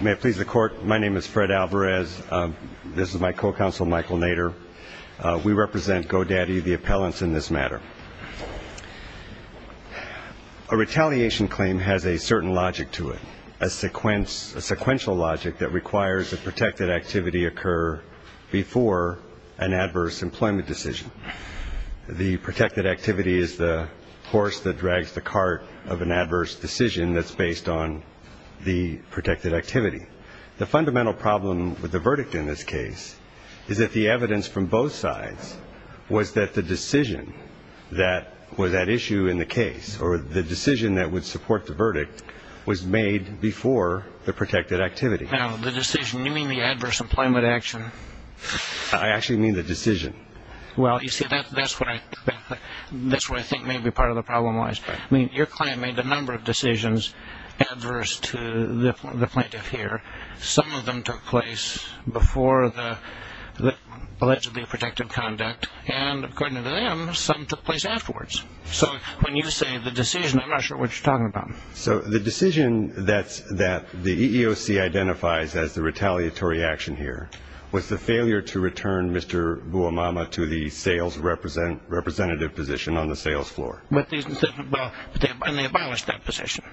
May it please the Court, my name is Fred Alvarez. This is my co-counsel Michael Nader. We represent Go Daddy, the appellants, in this matter. A retaliation claim has a certain logic to it, a sequential logic that requires that protected activity occur before an adverse employment decision. The protected activity is the horse that drags the cart of an adverse decision that's based on the protected activity. The fundamental problem with the verdict in this case is that the evidence from both sides was that the decision that was at issue in the case, or the decision that would support the verdict, was made before the protected activity. Now, the decision, you mean the adverse employment action? I actually mean the decision. Well, you see, that's what I think may be part of the problem. I mean, your claim made a number of decisions adverse to the plaintiff here. Some of them took place before the allegedly protected conduct, and according to them, some took place afterwards. So when you say the decision, I'm not sure what you're talking about. So the decision that the EEOC identifies as the retaliatory action here was the failure to return Mr. Bouamama to the sales representative position on the sales floor. But they abolished that position.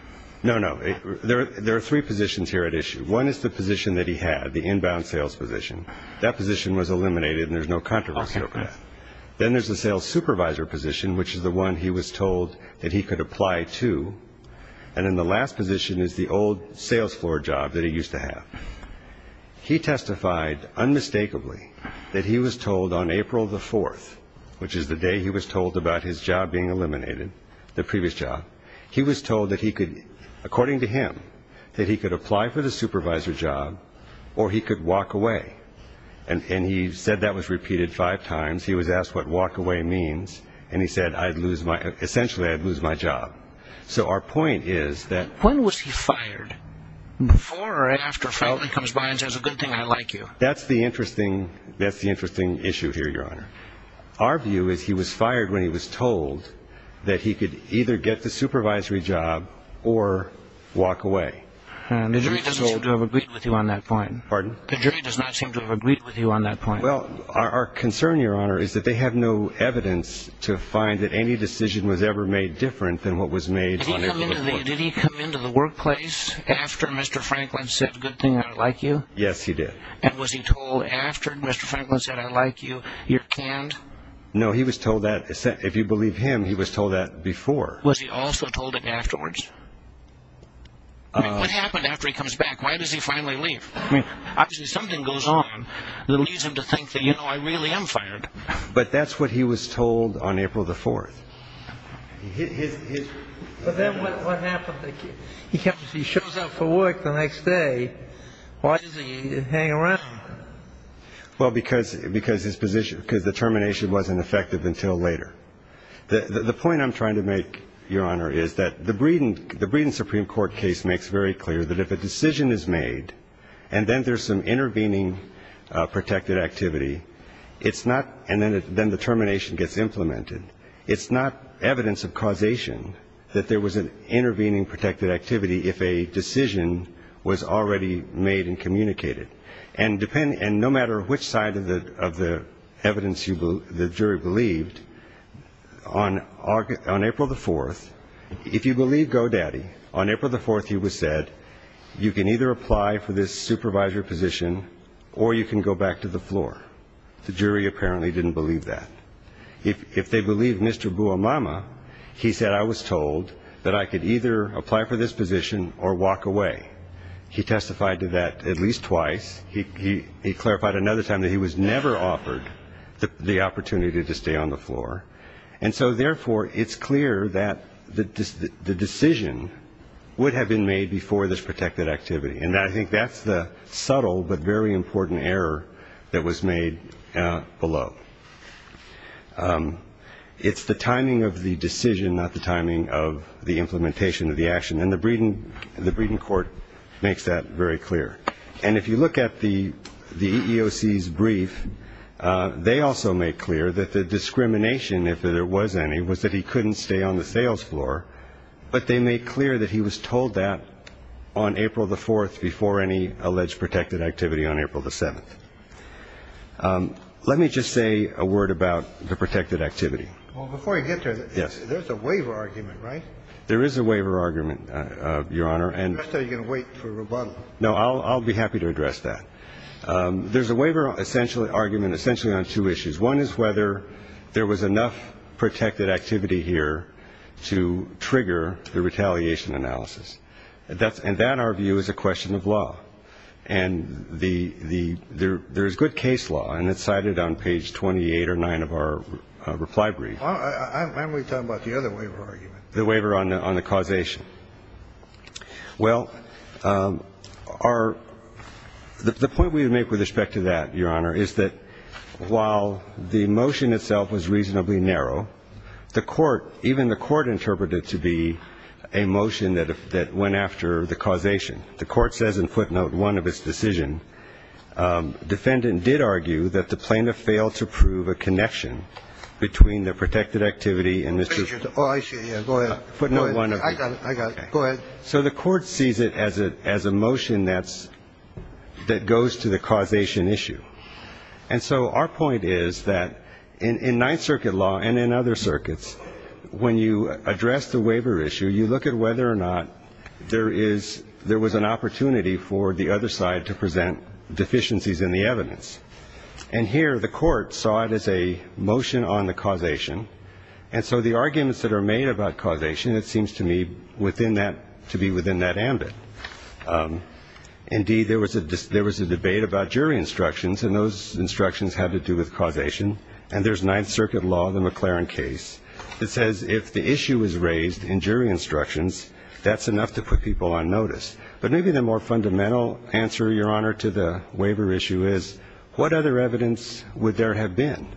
No, no. There are three positions here at issue. One is the position that he had, the inbound sales position. That position was eliminated, and there's no controversy over that. Then there's the sales supervisor position, which is the one he was told that he could apply to. And then the last position is the old sales floor job that he used to have. He testified unmistakably that he was told on April the 4th, which is the day he was told about his job being eliminated, the previous job, he was told that he could, according to him, that he could apply for the supervisor job or he could walk away. And he said that was repeated five times. He was asked what walk away means, and he said, I'd lose my – essentially, I'd lose my job. So our point is that – Franklin comes by and says a good thing, I like you. That's the interesting issue here, Your Honor. Our view is he was fired when he was told that he could either get the supervisory job or walk away. The jury doesn't seem to have agreed with you on that point. Pardon? The jury does not seem to have agreed with you on that point. Well, our concern, Your Honor, is that they have no evidence to find that any decision was ever made different than what was made on April the 4th. Did he come into the workplace after Mr. Franklin said a good thing, I like you? Yes, he did. And was he told after Mr. Franklin said, I like you, you're canned? No, he was told that – if you believe him, he was told that before. Was he also told it afterwards? I mean, what happened after he comes back? Why does he finally leave? I mean, obviously something goes on that leads him to think that, you know, I really am fired. But that's what he was told on April the 4th. But then what happened? He shows up for work the next day. Why does he hang around? Well, because his position – because the termination wasn't effective until later. The point I'm trying to make, Your Honor, is that the Breeden Supreme Court case makes very clear that if a decision is made and then there's some intervening protected activity, it's not – and then the termination gets implemented. It's not evidence of causation that there was an intervening protected activity if a decision was already made and communicated. And no matter which side of the evidence the jury believed, on April the 4th, if you believe Go Daddy, on April the 4th he was said, you can either apply for this supervisory position or you can go back to the floor. The jury apparently didn't believe that. If they believed Mr. Buamama, he said, I was told that I could either apply for this position or walk away. He testified to that at least twice. He clarified another time that he was never offered the opportunity to stay on the floor. And so, therefore, it's clear that the decision would have been made before this protected activity. And I think that's the subtle but very important error that was made below. It's the timing of the decision, not the timing of the implementation of the action. And the Breeden Court makes that very clear. And if you look at the EEOC's brief, they also make clear that the discrimination, if there was any, was that he couldn't stay on the sales floor. But they made clear that he was told that on April the 4th before any alleged protected activity on April the 7th. Let me just say a word about the protected activity. Well, before you get there, there's a waiver argument, right? There is a waiver argument, Your Honor, and So you're going to wait for rebuttal? No, I'll be happy to address that. There's a waiver argument essentially on two issues. One is whether there was enough protected activity here to trigger the retaliation analysis. And that, in our view, is a question of law. And there is good case law, and it's cited on page 28 or 29 of our reply brief. Why don't we talk about the other waiver argument? The waiver on the causation. Well, our the point we would make with respect to that, Your Honor, is that while the motion itself was reasonably narrow, the Court, even the Court interpreted to be a motion that went after the causation. The Court says in footnote 1 of its decision, defendant did argue that the plaintiff failed to prove a connection between the protected activity and Mr. Oh, I see. Yeah, go ahead. Footnote 1 of it. I got it. I got it. Go ahead. So the Court sees it as a motion that goes to the causation issue. And so our point is that in Ninth Circuit law and in other circuits, when you address the waiver issue, you look at whether or not there was an opportunity for the other side to present deficiencies in the evidence. And here, the Court saw it as a motion on the causation. And so the arguments that are made about causation, it seems to me, to be within that ambit. Indeed, there was a debate about jury instructions, and those instructions had to do with causation. And there's Ninth Circuit law, the McLaren case, that says if the issue is raised in jury instructions, that's enough to put people on notice. But maybe the more fundamental answer, Your Honor, to the waiver issue is, what other evidence would there have been?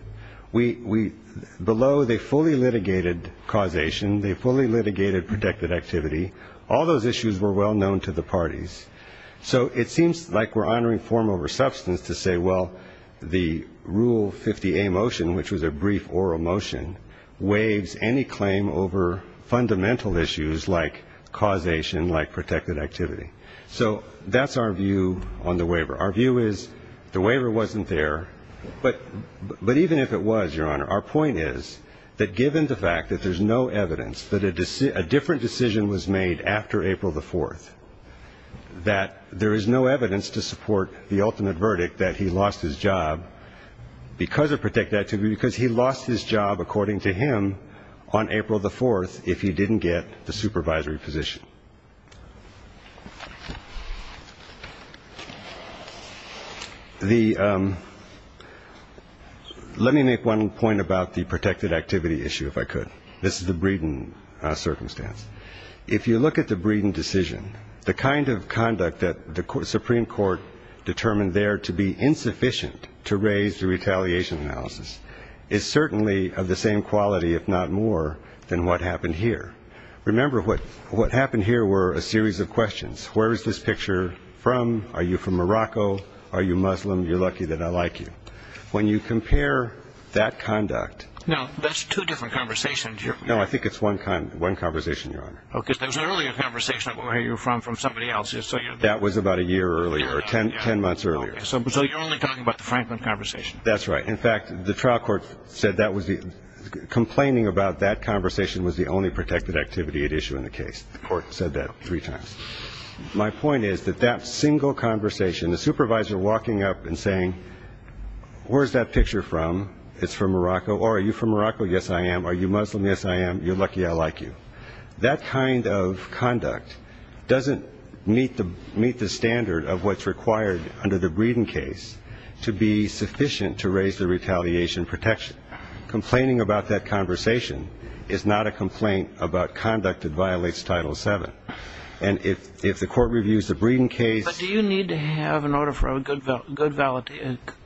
Below, they fully litigated causation. They fully litigated protected activity. All those issues were well known to the parties. So it seems like we're honoring form over substance to say, well, the Rule 50A motion, which was a brief oral motion, waives any claim over fundamental issues like causation, like protected activity. So that's our view on the waiver. Our view is, the waiver wasn't there, but even if it was, Your Honor, our point is that given the fact that there's no evidence that a different decision was made after April the 4th, that there is no evidence to support the ultimate verdict that he lost his job because of protected activity, because he lost his job, according to him, on April the 4th if he didn't get the supervisory position. Let me make one point about the protected activity issue, if I could. This is the Breeden circumstance. If you look at the Breeden decision, the kind of conduct that the Supreme Court determined there to be insufficient to raise the retaliation analysis is certainly of the same quality, if not more, than what happened here. Remember, what happened here were a series of questions. Where is this picture from? Are you from Morocco? Are you Muslim? You're lucky that I like you. When you compare that conduct. Now, that's two different conversations here. No, I think it's one conversation, Your Honor. Okay, so it was an earlier conversation of where you're from from somebody else. That was about a year earlier, or ten months earlier. So you're only talking about the Franklin conversation. That's right. In fact, the trial court said that was the, complaining about that conversation was the only protected activity at issue in the case. The court said that three times. My point is that that single conversation, the supervisor walking up and saying, where's that picture from? It's from Morocco, or are you from Morocco? Yes, I am. Are you Muslim? Yes, I am. You're lucky I like you. That kind of conduct doesn't meet the, meet the standard of what's required under the Breeden case to be sufficient to raise the retaliation protection. Complaining about that conversation is not a complaint about conduct that violates title seven. And if, if the court reviews the Breeden case. But do you need to have an order for a good val, good val,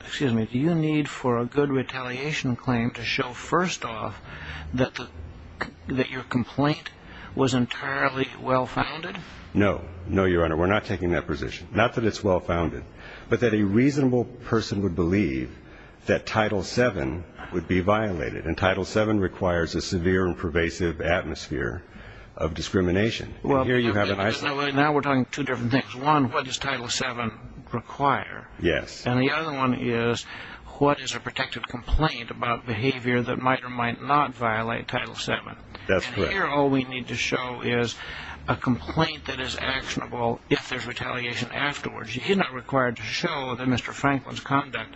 excuse me. Do you need for a good retaliation claim to show first off that the, that your complaint was entirely well founded? No. No, Your Honor. We're not taking that position. Not that it's well founded. But that a reasonable person would believe that title seven would be violated. And title seven requires a severe and pervasive atmosphere of discrimination. Well, now we're talking two different things. One, what does title seven require? Yes. And the other one is, what is a protected complaint about behavior that might or might not violate title seven? That's correct. And here all we need to show is a complaint that is actionable if there's retaliation afterwards. You're not required to show that Mr. Franklin's conduct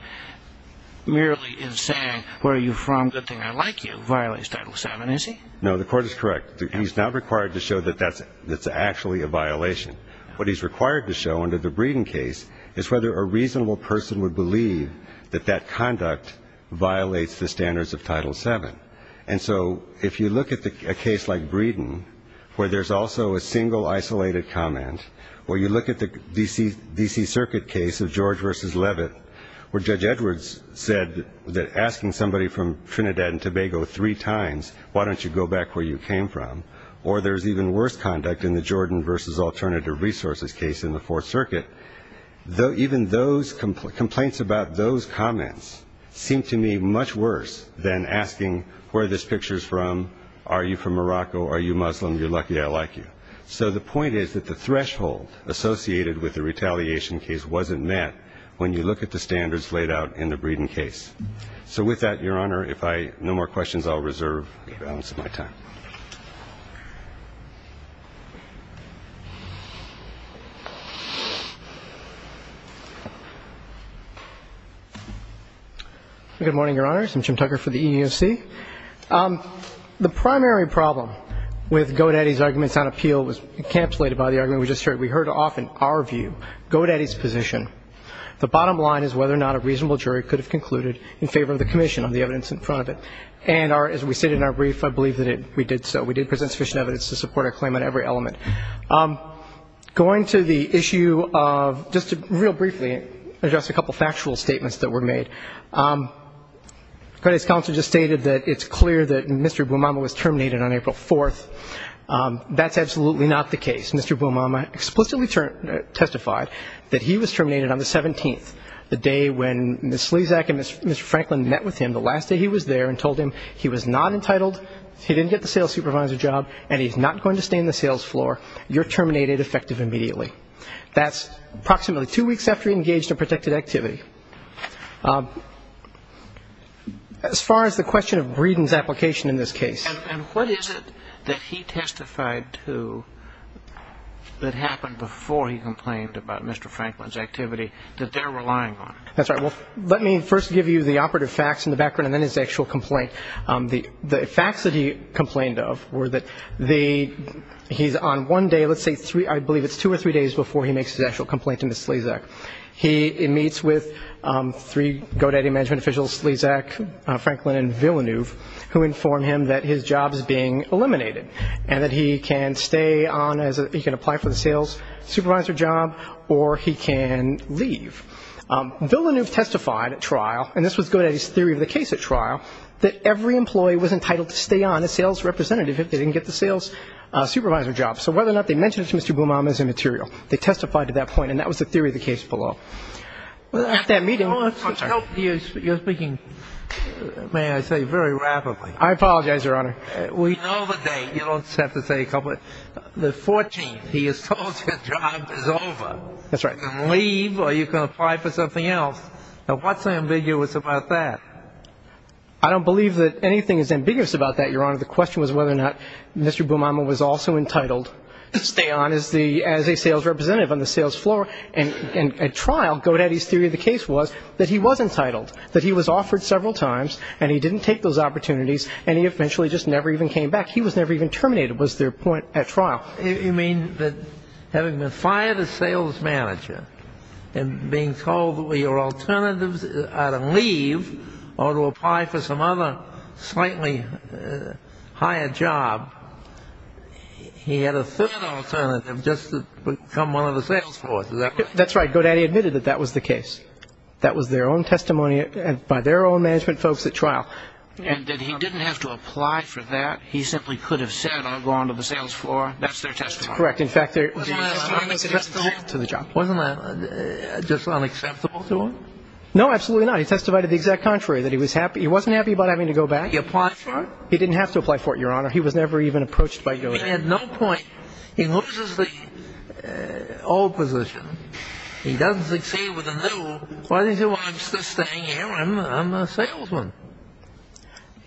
merely is saying, where are you from? Good thing I like you, violates title seven, is he? No, the court is correct. He's not required to show that that's, that's actually a violation. What he's required to show under the Breeden case is whether a reasonable person would believe that that conduct violates the standards of title seven. And so, if you look at the, a case like Breeden, where there's also a single isolated comment, or you look at the D.C., D.C. Circuit case of George versus Levitt, where Judge Edwards said that asking somebody from Trinidad and Tobago three times, why don't you go back where you came from? Or there's even worse conduct in the Jordan versus alternative resources case in the Fourth Circuit, though even those complaints about those comments seem to me much worse than asking where this picture's from. Are you from Morocco? Are you Muslim? You're lucky I like you. So the point is that the threshold associated with the retaliation case wasn't met when you look at the standards laid out in the Breeden case. So with that, Your Honor, if I, no more questions, I'll reserve the balance of my time. Good morning, Your Honors. I'm Jim Tucker for the EEOC. The primary problem with Godaddy's arguments on appeal was encapsulated by the argument we just heard. We heard often our view, Godaddy's position. The bottom line is whether or not a reasonable jury could have concluded in favor of the commission on the evidence in front of it. And as we stated in our brief, I believe that we did so. We did present sufficient evidence to support our claim on every element. Going to the issue of, just real briefly, address a couple factual statements that were made. Godaddy's counsel just stated that it's clear that Mr. Bumama was terminated on April 4th. That's absolutely not the case. Mr. Bumama explicitly testified that he was terminated on the 17th, the day when Ms. Slezak and Mr. Franklin met with him the last day he was there and told him he was not entitled, he didn't get the sales supervisor job, and he's not going to stay in the sales floor. You're terminated effective immediately. That's approximately two weeks after he engaged in protected activity. As far as the question of Breeden's application in this case. And what is it that he testified to that happened before he complained about Mr. Franklin's activity that they're relying on? That's right. Let me first give you the operative facts in the background and then his actual complaint. The facts that he complained of were that he's on one day, let's say three, I believe it's two or three days before he makes his actual complaint to Ms. Slezak. He meets with three Godaddy management officials, Slezak, Franklin, and his job is being eliminated, and that he can stay on as a, he can apply for the sales supervisor job, or he can leave. Villeneuve testified at trial, and this was Godaddy's theory of the case at trial, that every employee was entitled to stay on as sales representative if they didn't get the sales supervisor job. So whether or not they mentioned it to Mr. Blumaum is immaterial. They testified to that point, and that was the theory of the case below. At that meeting, I'm sorry. You're speaking, may I say, very rapidly. I apologize, Your Honor. We know the date. You don't have to say a couple. The 14th, he is told his job is over. That's right. You can leave or you can apply for something else. Now what's ambiguous about that? I don't believe that anything is ambiguous about that, Your Honor. The question was whether or not Mr. Blumaum was also entitled to stay on as a sales representative on the sales floor. And at trial, Godaddy's theory of the case was that he was entitled, that he was offered several times, and he didn't take those opportunities, and he eventually just never even came back. He was never even terminated was their point at trial. You mean that having been fired as sales manager, and being told that your alternatives are to leave or to apply for some other slightly higher job, he had a third alternative just to become one of the sales force, is that right? That's right, Godaddy admitted that that was the case. That was their own testimony by their own management folks at trial. And that he didn't have to apply for that. He simply could have said, I'll go on to the sales floor. That's their testimony. Correct. In fact, they're- Wasn't that just unacceptable to him? No, absolutely not. He testified to the exact contrary, that he wasn't happy about having to go back. He applied for it? He didn't have to apply for it, Your Honor. He was never even approached by Godaddy. He had no point. He loses the old position. He doesn't succeed with the new. Why does he say, well, I'm still staying here, I'm a salesman?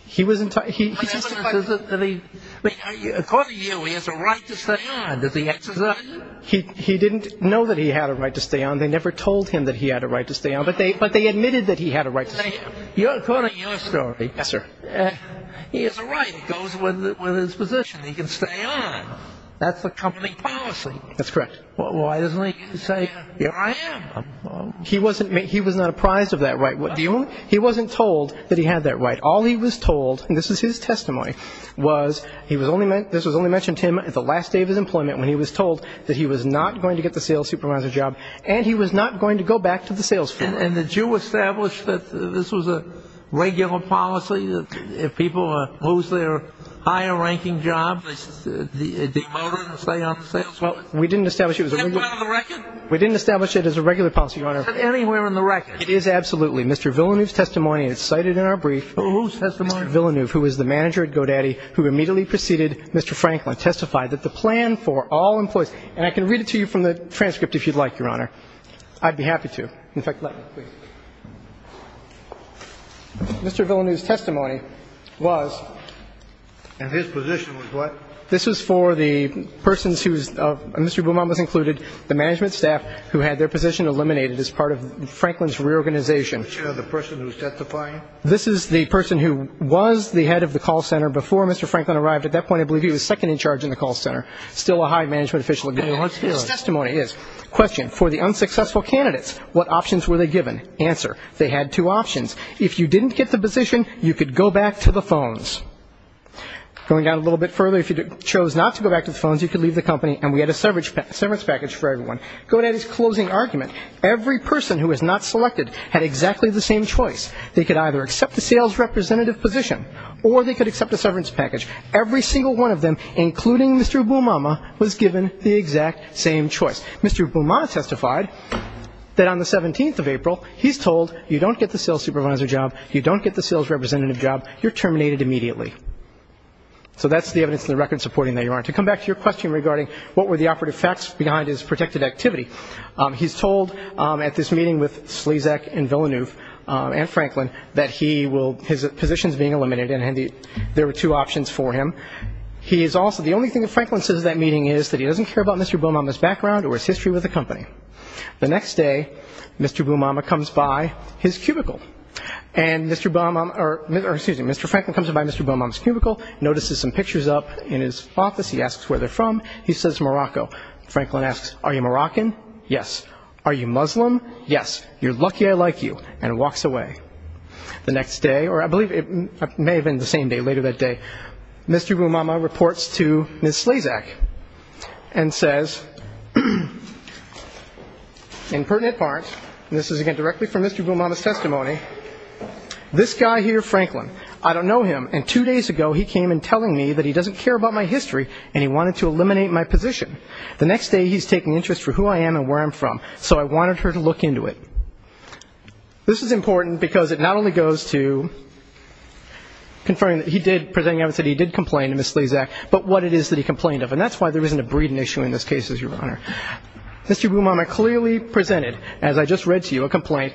He was in touch, he testified that he, according to you, he has a right to stay on. Does he exercise it? He didn't know that he had a right to stay on. They never told him that he had a right to stay on. But they admitted that he had a right to stay on. According to your story. Yes, sir. He has a right. It goes with his position. He can stay on. That's the company policy. That's correct. Well, why doesn't he say, here I am? He was not apprised of that right. He wasn't told that he had that right. All he was told, and this is his testimony, was, this was only mentioned to him at the last day of his employment, when he was told that he was not going to get the sales supervisor job, and he was not going to go back to the sales floor. And did you establish that this was a regular policy, that if people lose their higher-ranking job, they demote them and stay on the sales floor? Well, we didn't establish it as a regular policy, Your Honor. Is that anywhere in the record? It is, absolutely. Mr. Villeneuve's testimony is cited in our brief. Who's testimony? Mr. Villeneuve, who is the manager at GoDaddy, who immediately preceded Mr. Franklin, testified that the plan for all employees, and I can read it to you from the transcript if you'd like, Your Honor. I'd be happy to. In fact, let me, please. Mr. Villeneuve's testimony was. And his position was what? This was for the persons whose, Mr. Beaumont was included, the management staff who had their position eliminated as part of Franklin's reorganization. The person who testified? This is the person who was the head of the call center before Mr. Franklin arrived. At that point, I believe he was second in charge in the call center. Still a high management official at GoDaddy. His testimony is, question, for the unsuccessful candidates, what options were they given? Answer, they had two options. If you didn't get the position, you could go back to the phones. Going down a little bit further, if you chose not to go back to the phones, you could leave the company, and we had a severance package for everyone. GoDaddy's closing argument, every person who was not selected had exactly the same choice. They could either accept the sales representative position, or they could accept a severance package. Every single one of them, including Mr. Beaumont, was given the exact same choice. Mr. Beaumont testified that on the 17th of April, he's told, you don't get the sales supervisor job, you don't get the sales representative job, you're terminated immediately. So that's the evidence in the record supporting that you aren't. To come back to your question regarding what were the operative facts behind his protected activity, he's told at this meeting with Slezak and Villeneuve and Franklin that he will, his position's being eliminated, and there were two options for him. He is also, the only thing that Franklin says at that meeting is that he doesn't care about Mr. Beaumont's background or his history with the company. The next day, Mr. Beaumont comes by his cubicle, and Mr. Beaumont, or excuse me, Mr. Franklin comes by Mr. Beaumont's cubicle, notices some pictures up in his office, he asks where they're from, he says Morocco. Franklin asks, are you Moroccan? Yes. Are you Muslim? Yes. You're lucky I like you, and walks away. The next day, or I believe it may have been the same day, later that day, Mr. Beaumont reports to Ms. Slezak and says, in pertinent parts, and this is again directly from Mr. Beaumont's testimony, this guy here, Franklin, I don't know him, and two days ago he came in telling me that he doesn't care about my history and he wanted to eliminate my position. The next day he's taking interest for who I am and where I'm from, so I wanted her to look into it. This is important because it not only goes to confirming that he did, presenting evidence that he did complain to Ms. Slezak, but what it is that he complained of, and that's why there isn't a breeding issue in this case, Your Honor. Mr. Beaumont clearly presented, as I just read to you, a complaint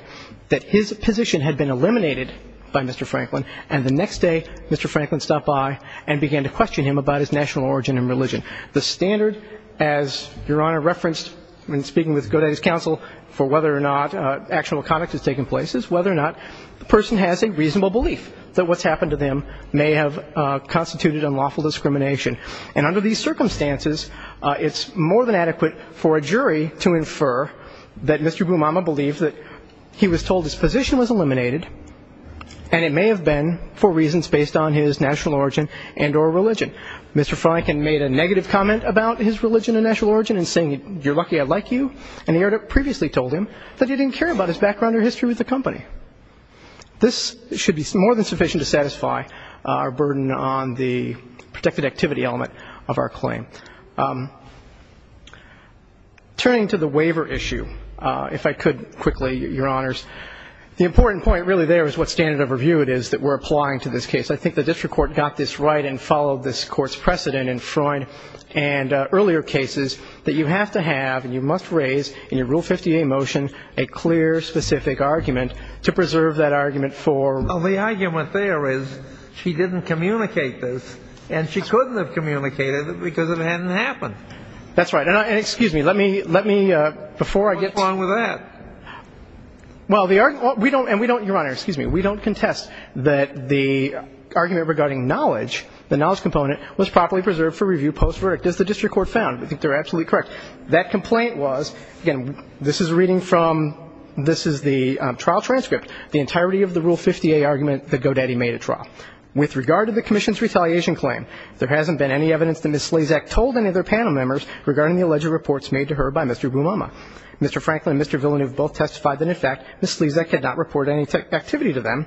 that his position had been eliminated by Mr. Franklin, and the next day, Mr. Franklin stopped by and began to question him about his national origin and religion. The standard, as Your Honor referenced when speaking with Godey's counsel for whether or not actual conduct has taken place, is whether or not the person has a reasonable belief that what's happened to them may have constituted unlawful discrimination. And under these circumstances, it's more than adequate for a jury to infer that Mr. Beaumont believed that he was told his position was eliminated, and it may have been for reasons based on his national origin and or religion. Mr. Franklin made a negative comment about his religion and national origin in saying, you're lucky I like you, and he had previously told him that he didn't care about his background or history with the company. This should be more than sufficient to satisfy our burden on the protected activity element of our claim. Turning to the waiver issue, if I could quickly, Your Honors, the important point really there is what standard of review it is that we're applying to this case. I think the district court got this right and followed this court's precedent in Freund and earlier cases that you have to have, and you must raise in your Rule 58 motion, a clear, specific argument to preserve that argument for... Well, the argument there is she didn't communicate this, and she couldn't have communicated it because it hadn't happened. That's right. And excuse me, let me, let me, before I get... What's wrong with that? Well, the argument, we don't, and we don't, Your Honor, excuse me, we don't contest that the argument regarding knowledge, the knowledge component, was properly preserved for review post-verdict, as the district court found. I think they're absolutely correct. That complaint was, again, this is reading from, this is the trial transcript, the entirety of the Rule 58 argument that Godetti made at trial. With regard to the commission's retaliation claim, there hasn't been any evidence that Ms. Slazak told any of their panel members regarding the alleged reports made to her by Mr. Bumama. Mr. Franklin and Mr. Villeneuve both testified that, in fact, Ms. Slazak had not reported any activity to them,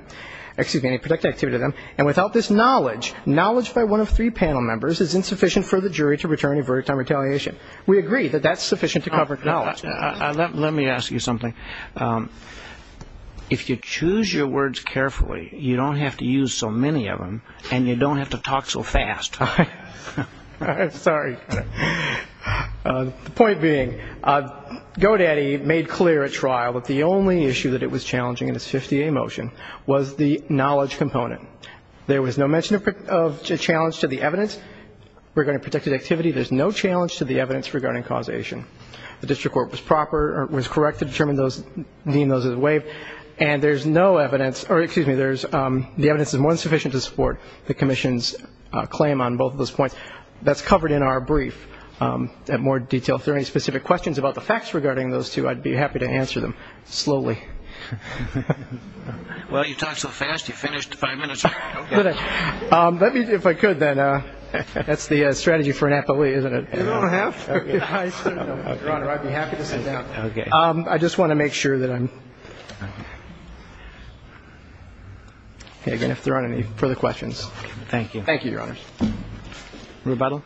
excuse me, any protected activity to them. And without this knowledge, knowledge by one of three panel members is insufficient for the jury to return a verdict on retaliation. We agree that that's sufficient to cover knowledge. Let me ask you something. If you choose your words carefully, you don't have to use so many of them, and you don't have to talk so fast. I'm sorry. The point being, Godetti made clear at trial that the only issue that it was challenging in this 50A motion was the knowledge component. There was no mention of a challenge to the evidence regarding protected activity. There's no challenge to the evidence regarding causation. The district court was proper, or was correct to determine those, deem those as a waive, and there's no evidence, or excuse me, the evidence is more than sufficient to support the commission's claim on both of those points. That's covered in our brief at more detail. If there are any specific questions about the facts regarding those two, I'd be happy to answer them slowly. Well, you talk so fast, you finished five minutes early. Let me, if I could, then, that's the strategy for an appellee, isn't it? I don't have. Your Honor, I'd be happy to sit down. I just want to make sure that I'm, okay, again, if there aren't any further questions. Thank you. Thank you, Your Honor. Rebuttal?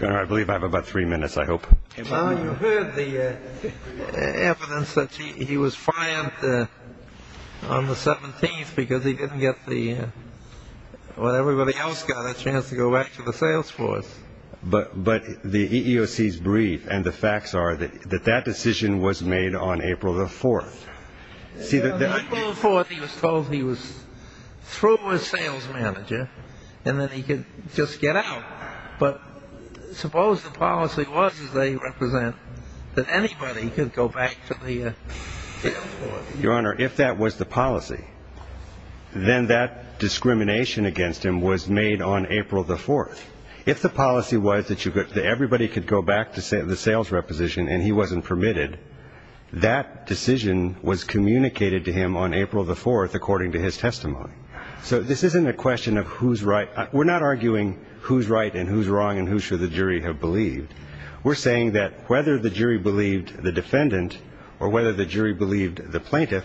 Your Honor, I believe I have about three minutes, I hope. Well, you heard the evidence that he was fined on the 17th because he didn't get the, well, everybody else got a chance to go back to the sales force. But the EEOC's brief and the facts are that that decision was made on April the 4th. See, the- On April the 4th, he was told he was through with sales manager and that he could just get out. But suppose the policy was, as they represent, that anybody could go back to the sales force. Your Honor, if that was the policy, then that discrimination against him was made on April the 4th. If the policy was that everybody could go back to the sales reposition and he wasn't permitted, that decision was communicated to him on April the 4th according to his testimony. So this isn't a question of who's right. We're not arguing who's right and who's wrong and who should the jury have believed. We're saying that whether the jury believed the defendant or whether the jury believed the plaintiff,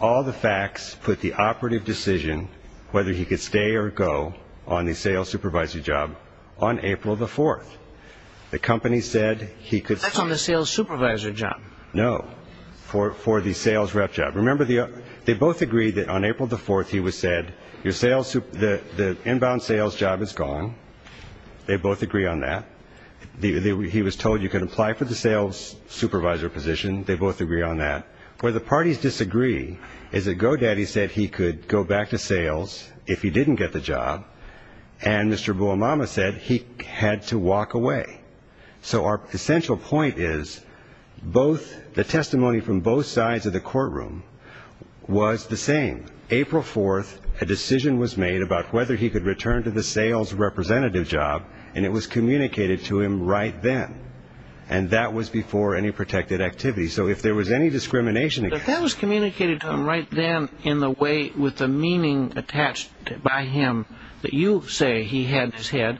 all the facts put the operative decision whether he could stay or go on the sales supervisor job on April the 4th. The company said he could- That's on the sales supervisor job. No, for the sales rep job. Remember, they both agreed that on April the 4th he was said, the inbound sales job is gone. They both agree on that. He was told you can apply for the sales supervisor position. They both agree on that. Where the parties disagree is that GoDaddy said he could go back to sales if he didn't get the job, and Mr. Buamama said he had to walk away. So our essential point is the testimony from both sides of the courtroom was the same. April 4th, a decision was made about whether he could return to the sales representative job, and it was communicated to him right then, and that was before any protected activity. So if there was any discrimination- But that was communicated to him right then in the way with the meaning attached by him that you say he had his head.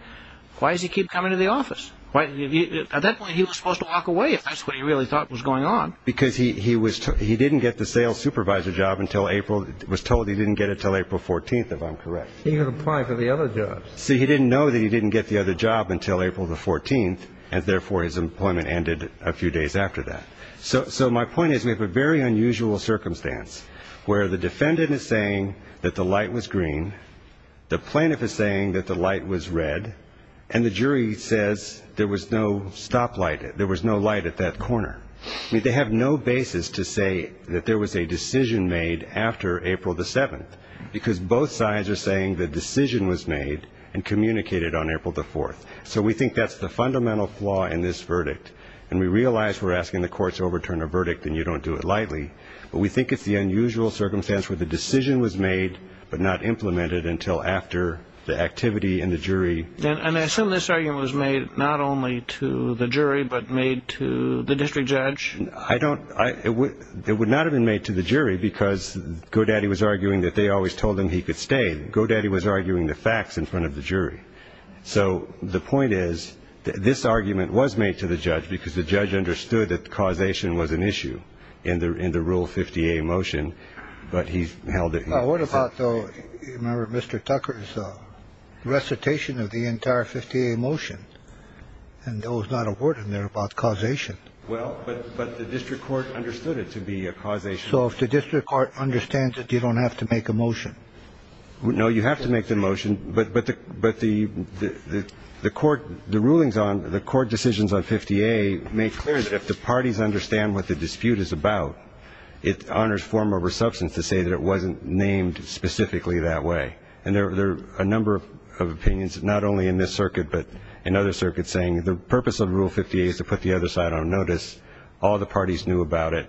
Why does he keep coming to the office? At that point he was supposed to walk away if that's what he really thought was going on. Because he didn't get the sales supervisor job until April- was told he didn't get it until April 14th, if I'm correct. He could apply for the other jobs. See, he didn't know that he didn't get the other job until April the 14th, and therefore his employment ended a few days after that. So my point is we have a very unusual circumstance where the defendant is saying that the light was green, the plaintiff is saying that the light was red, and the jury says there was no stoplight, there was no light at that corner. They have no basis to say that there was a decision made after April the 7th, because both sides are saying the decision was made and communicated on April the 4th. And we realize we're asking the courts to overturn a verdict and you don't do it lightly, but we think it's the unusual circumstance where the decision was made but not implemented until after the activity in the jury- And I assume this argument was made not only to the jury but made to the district judge? I don't- it would not have been made to the jury because Godaddy was arguing that they always told him he could stay. Godaddy was arguing the facts in front of the jury. So the point is that this argument was made to the judge because the judge understood that causation was an issue in the Rule 50A motion, but he held it- What about, though, you remember Mr. Tucker's recitation of the entire 50A motion? And there was not a word in there about causation. Well, but the district court understood it to be a causation. So if the district court understands it, you don't have to make a motion? No, you have to make the motion, but the court- the rulings on- the court decisions on 50A make clear that if the parties understand what the dispute is about, it honors form over substance to say that it wasn't named specifically that way. And there are a number of opinions, not only in this circuit but in other circuits, saying the purpose of Rule 50A is to put the other side on notice. All the parties knew about it.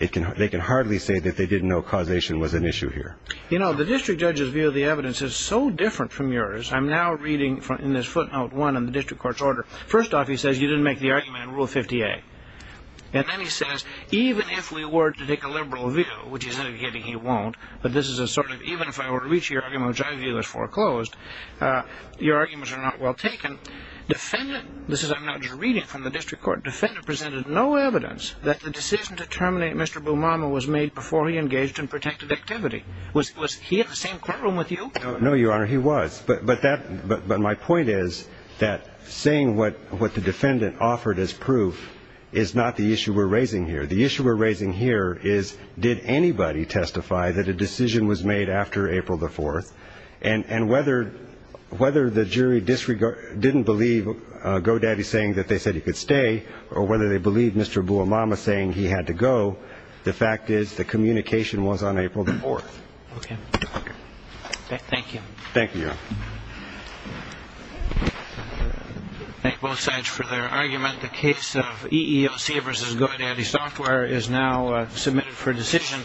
They can hardly say that they didn't know causation was an issue here. You know, the district judge's view of the evidence is so different from yours. I'm now reading in this footnote one in the district court's order. First off, he says you didn't make the argument in Rule 50A. And then he says, even if we were to take a liberal view, which he's indicating he won't, but this is a sort of, even if I were to reach the argument which I view as foreclosed, your arguments are not well taken. Defendant- this is, I'm now just reading from the district court. Defendant presented no evidence that the decision to terminate Mr. Bumama was made before he engaged in protective activity. Was he in the same courtroom with you? No, Your Honor, he was. But my point is that saying what the defendant offered as proof is not the issue we're raising here. The issue we're raising here is did anybody testify that a decision was made after April the 4th? And whether the jury didn't believe Godaddy saying that they said he could stay or whether they believed Mr. Bumama saying he had to go, the fact is the communication was on April the 4th. Okay. Thank you. Thank you, Your Honor. Thank both sides for their argument. The case of EEOC v. Godaddy Software is now submitted for decision.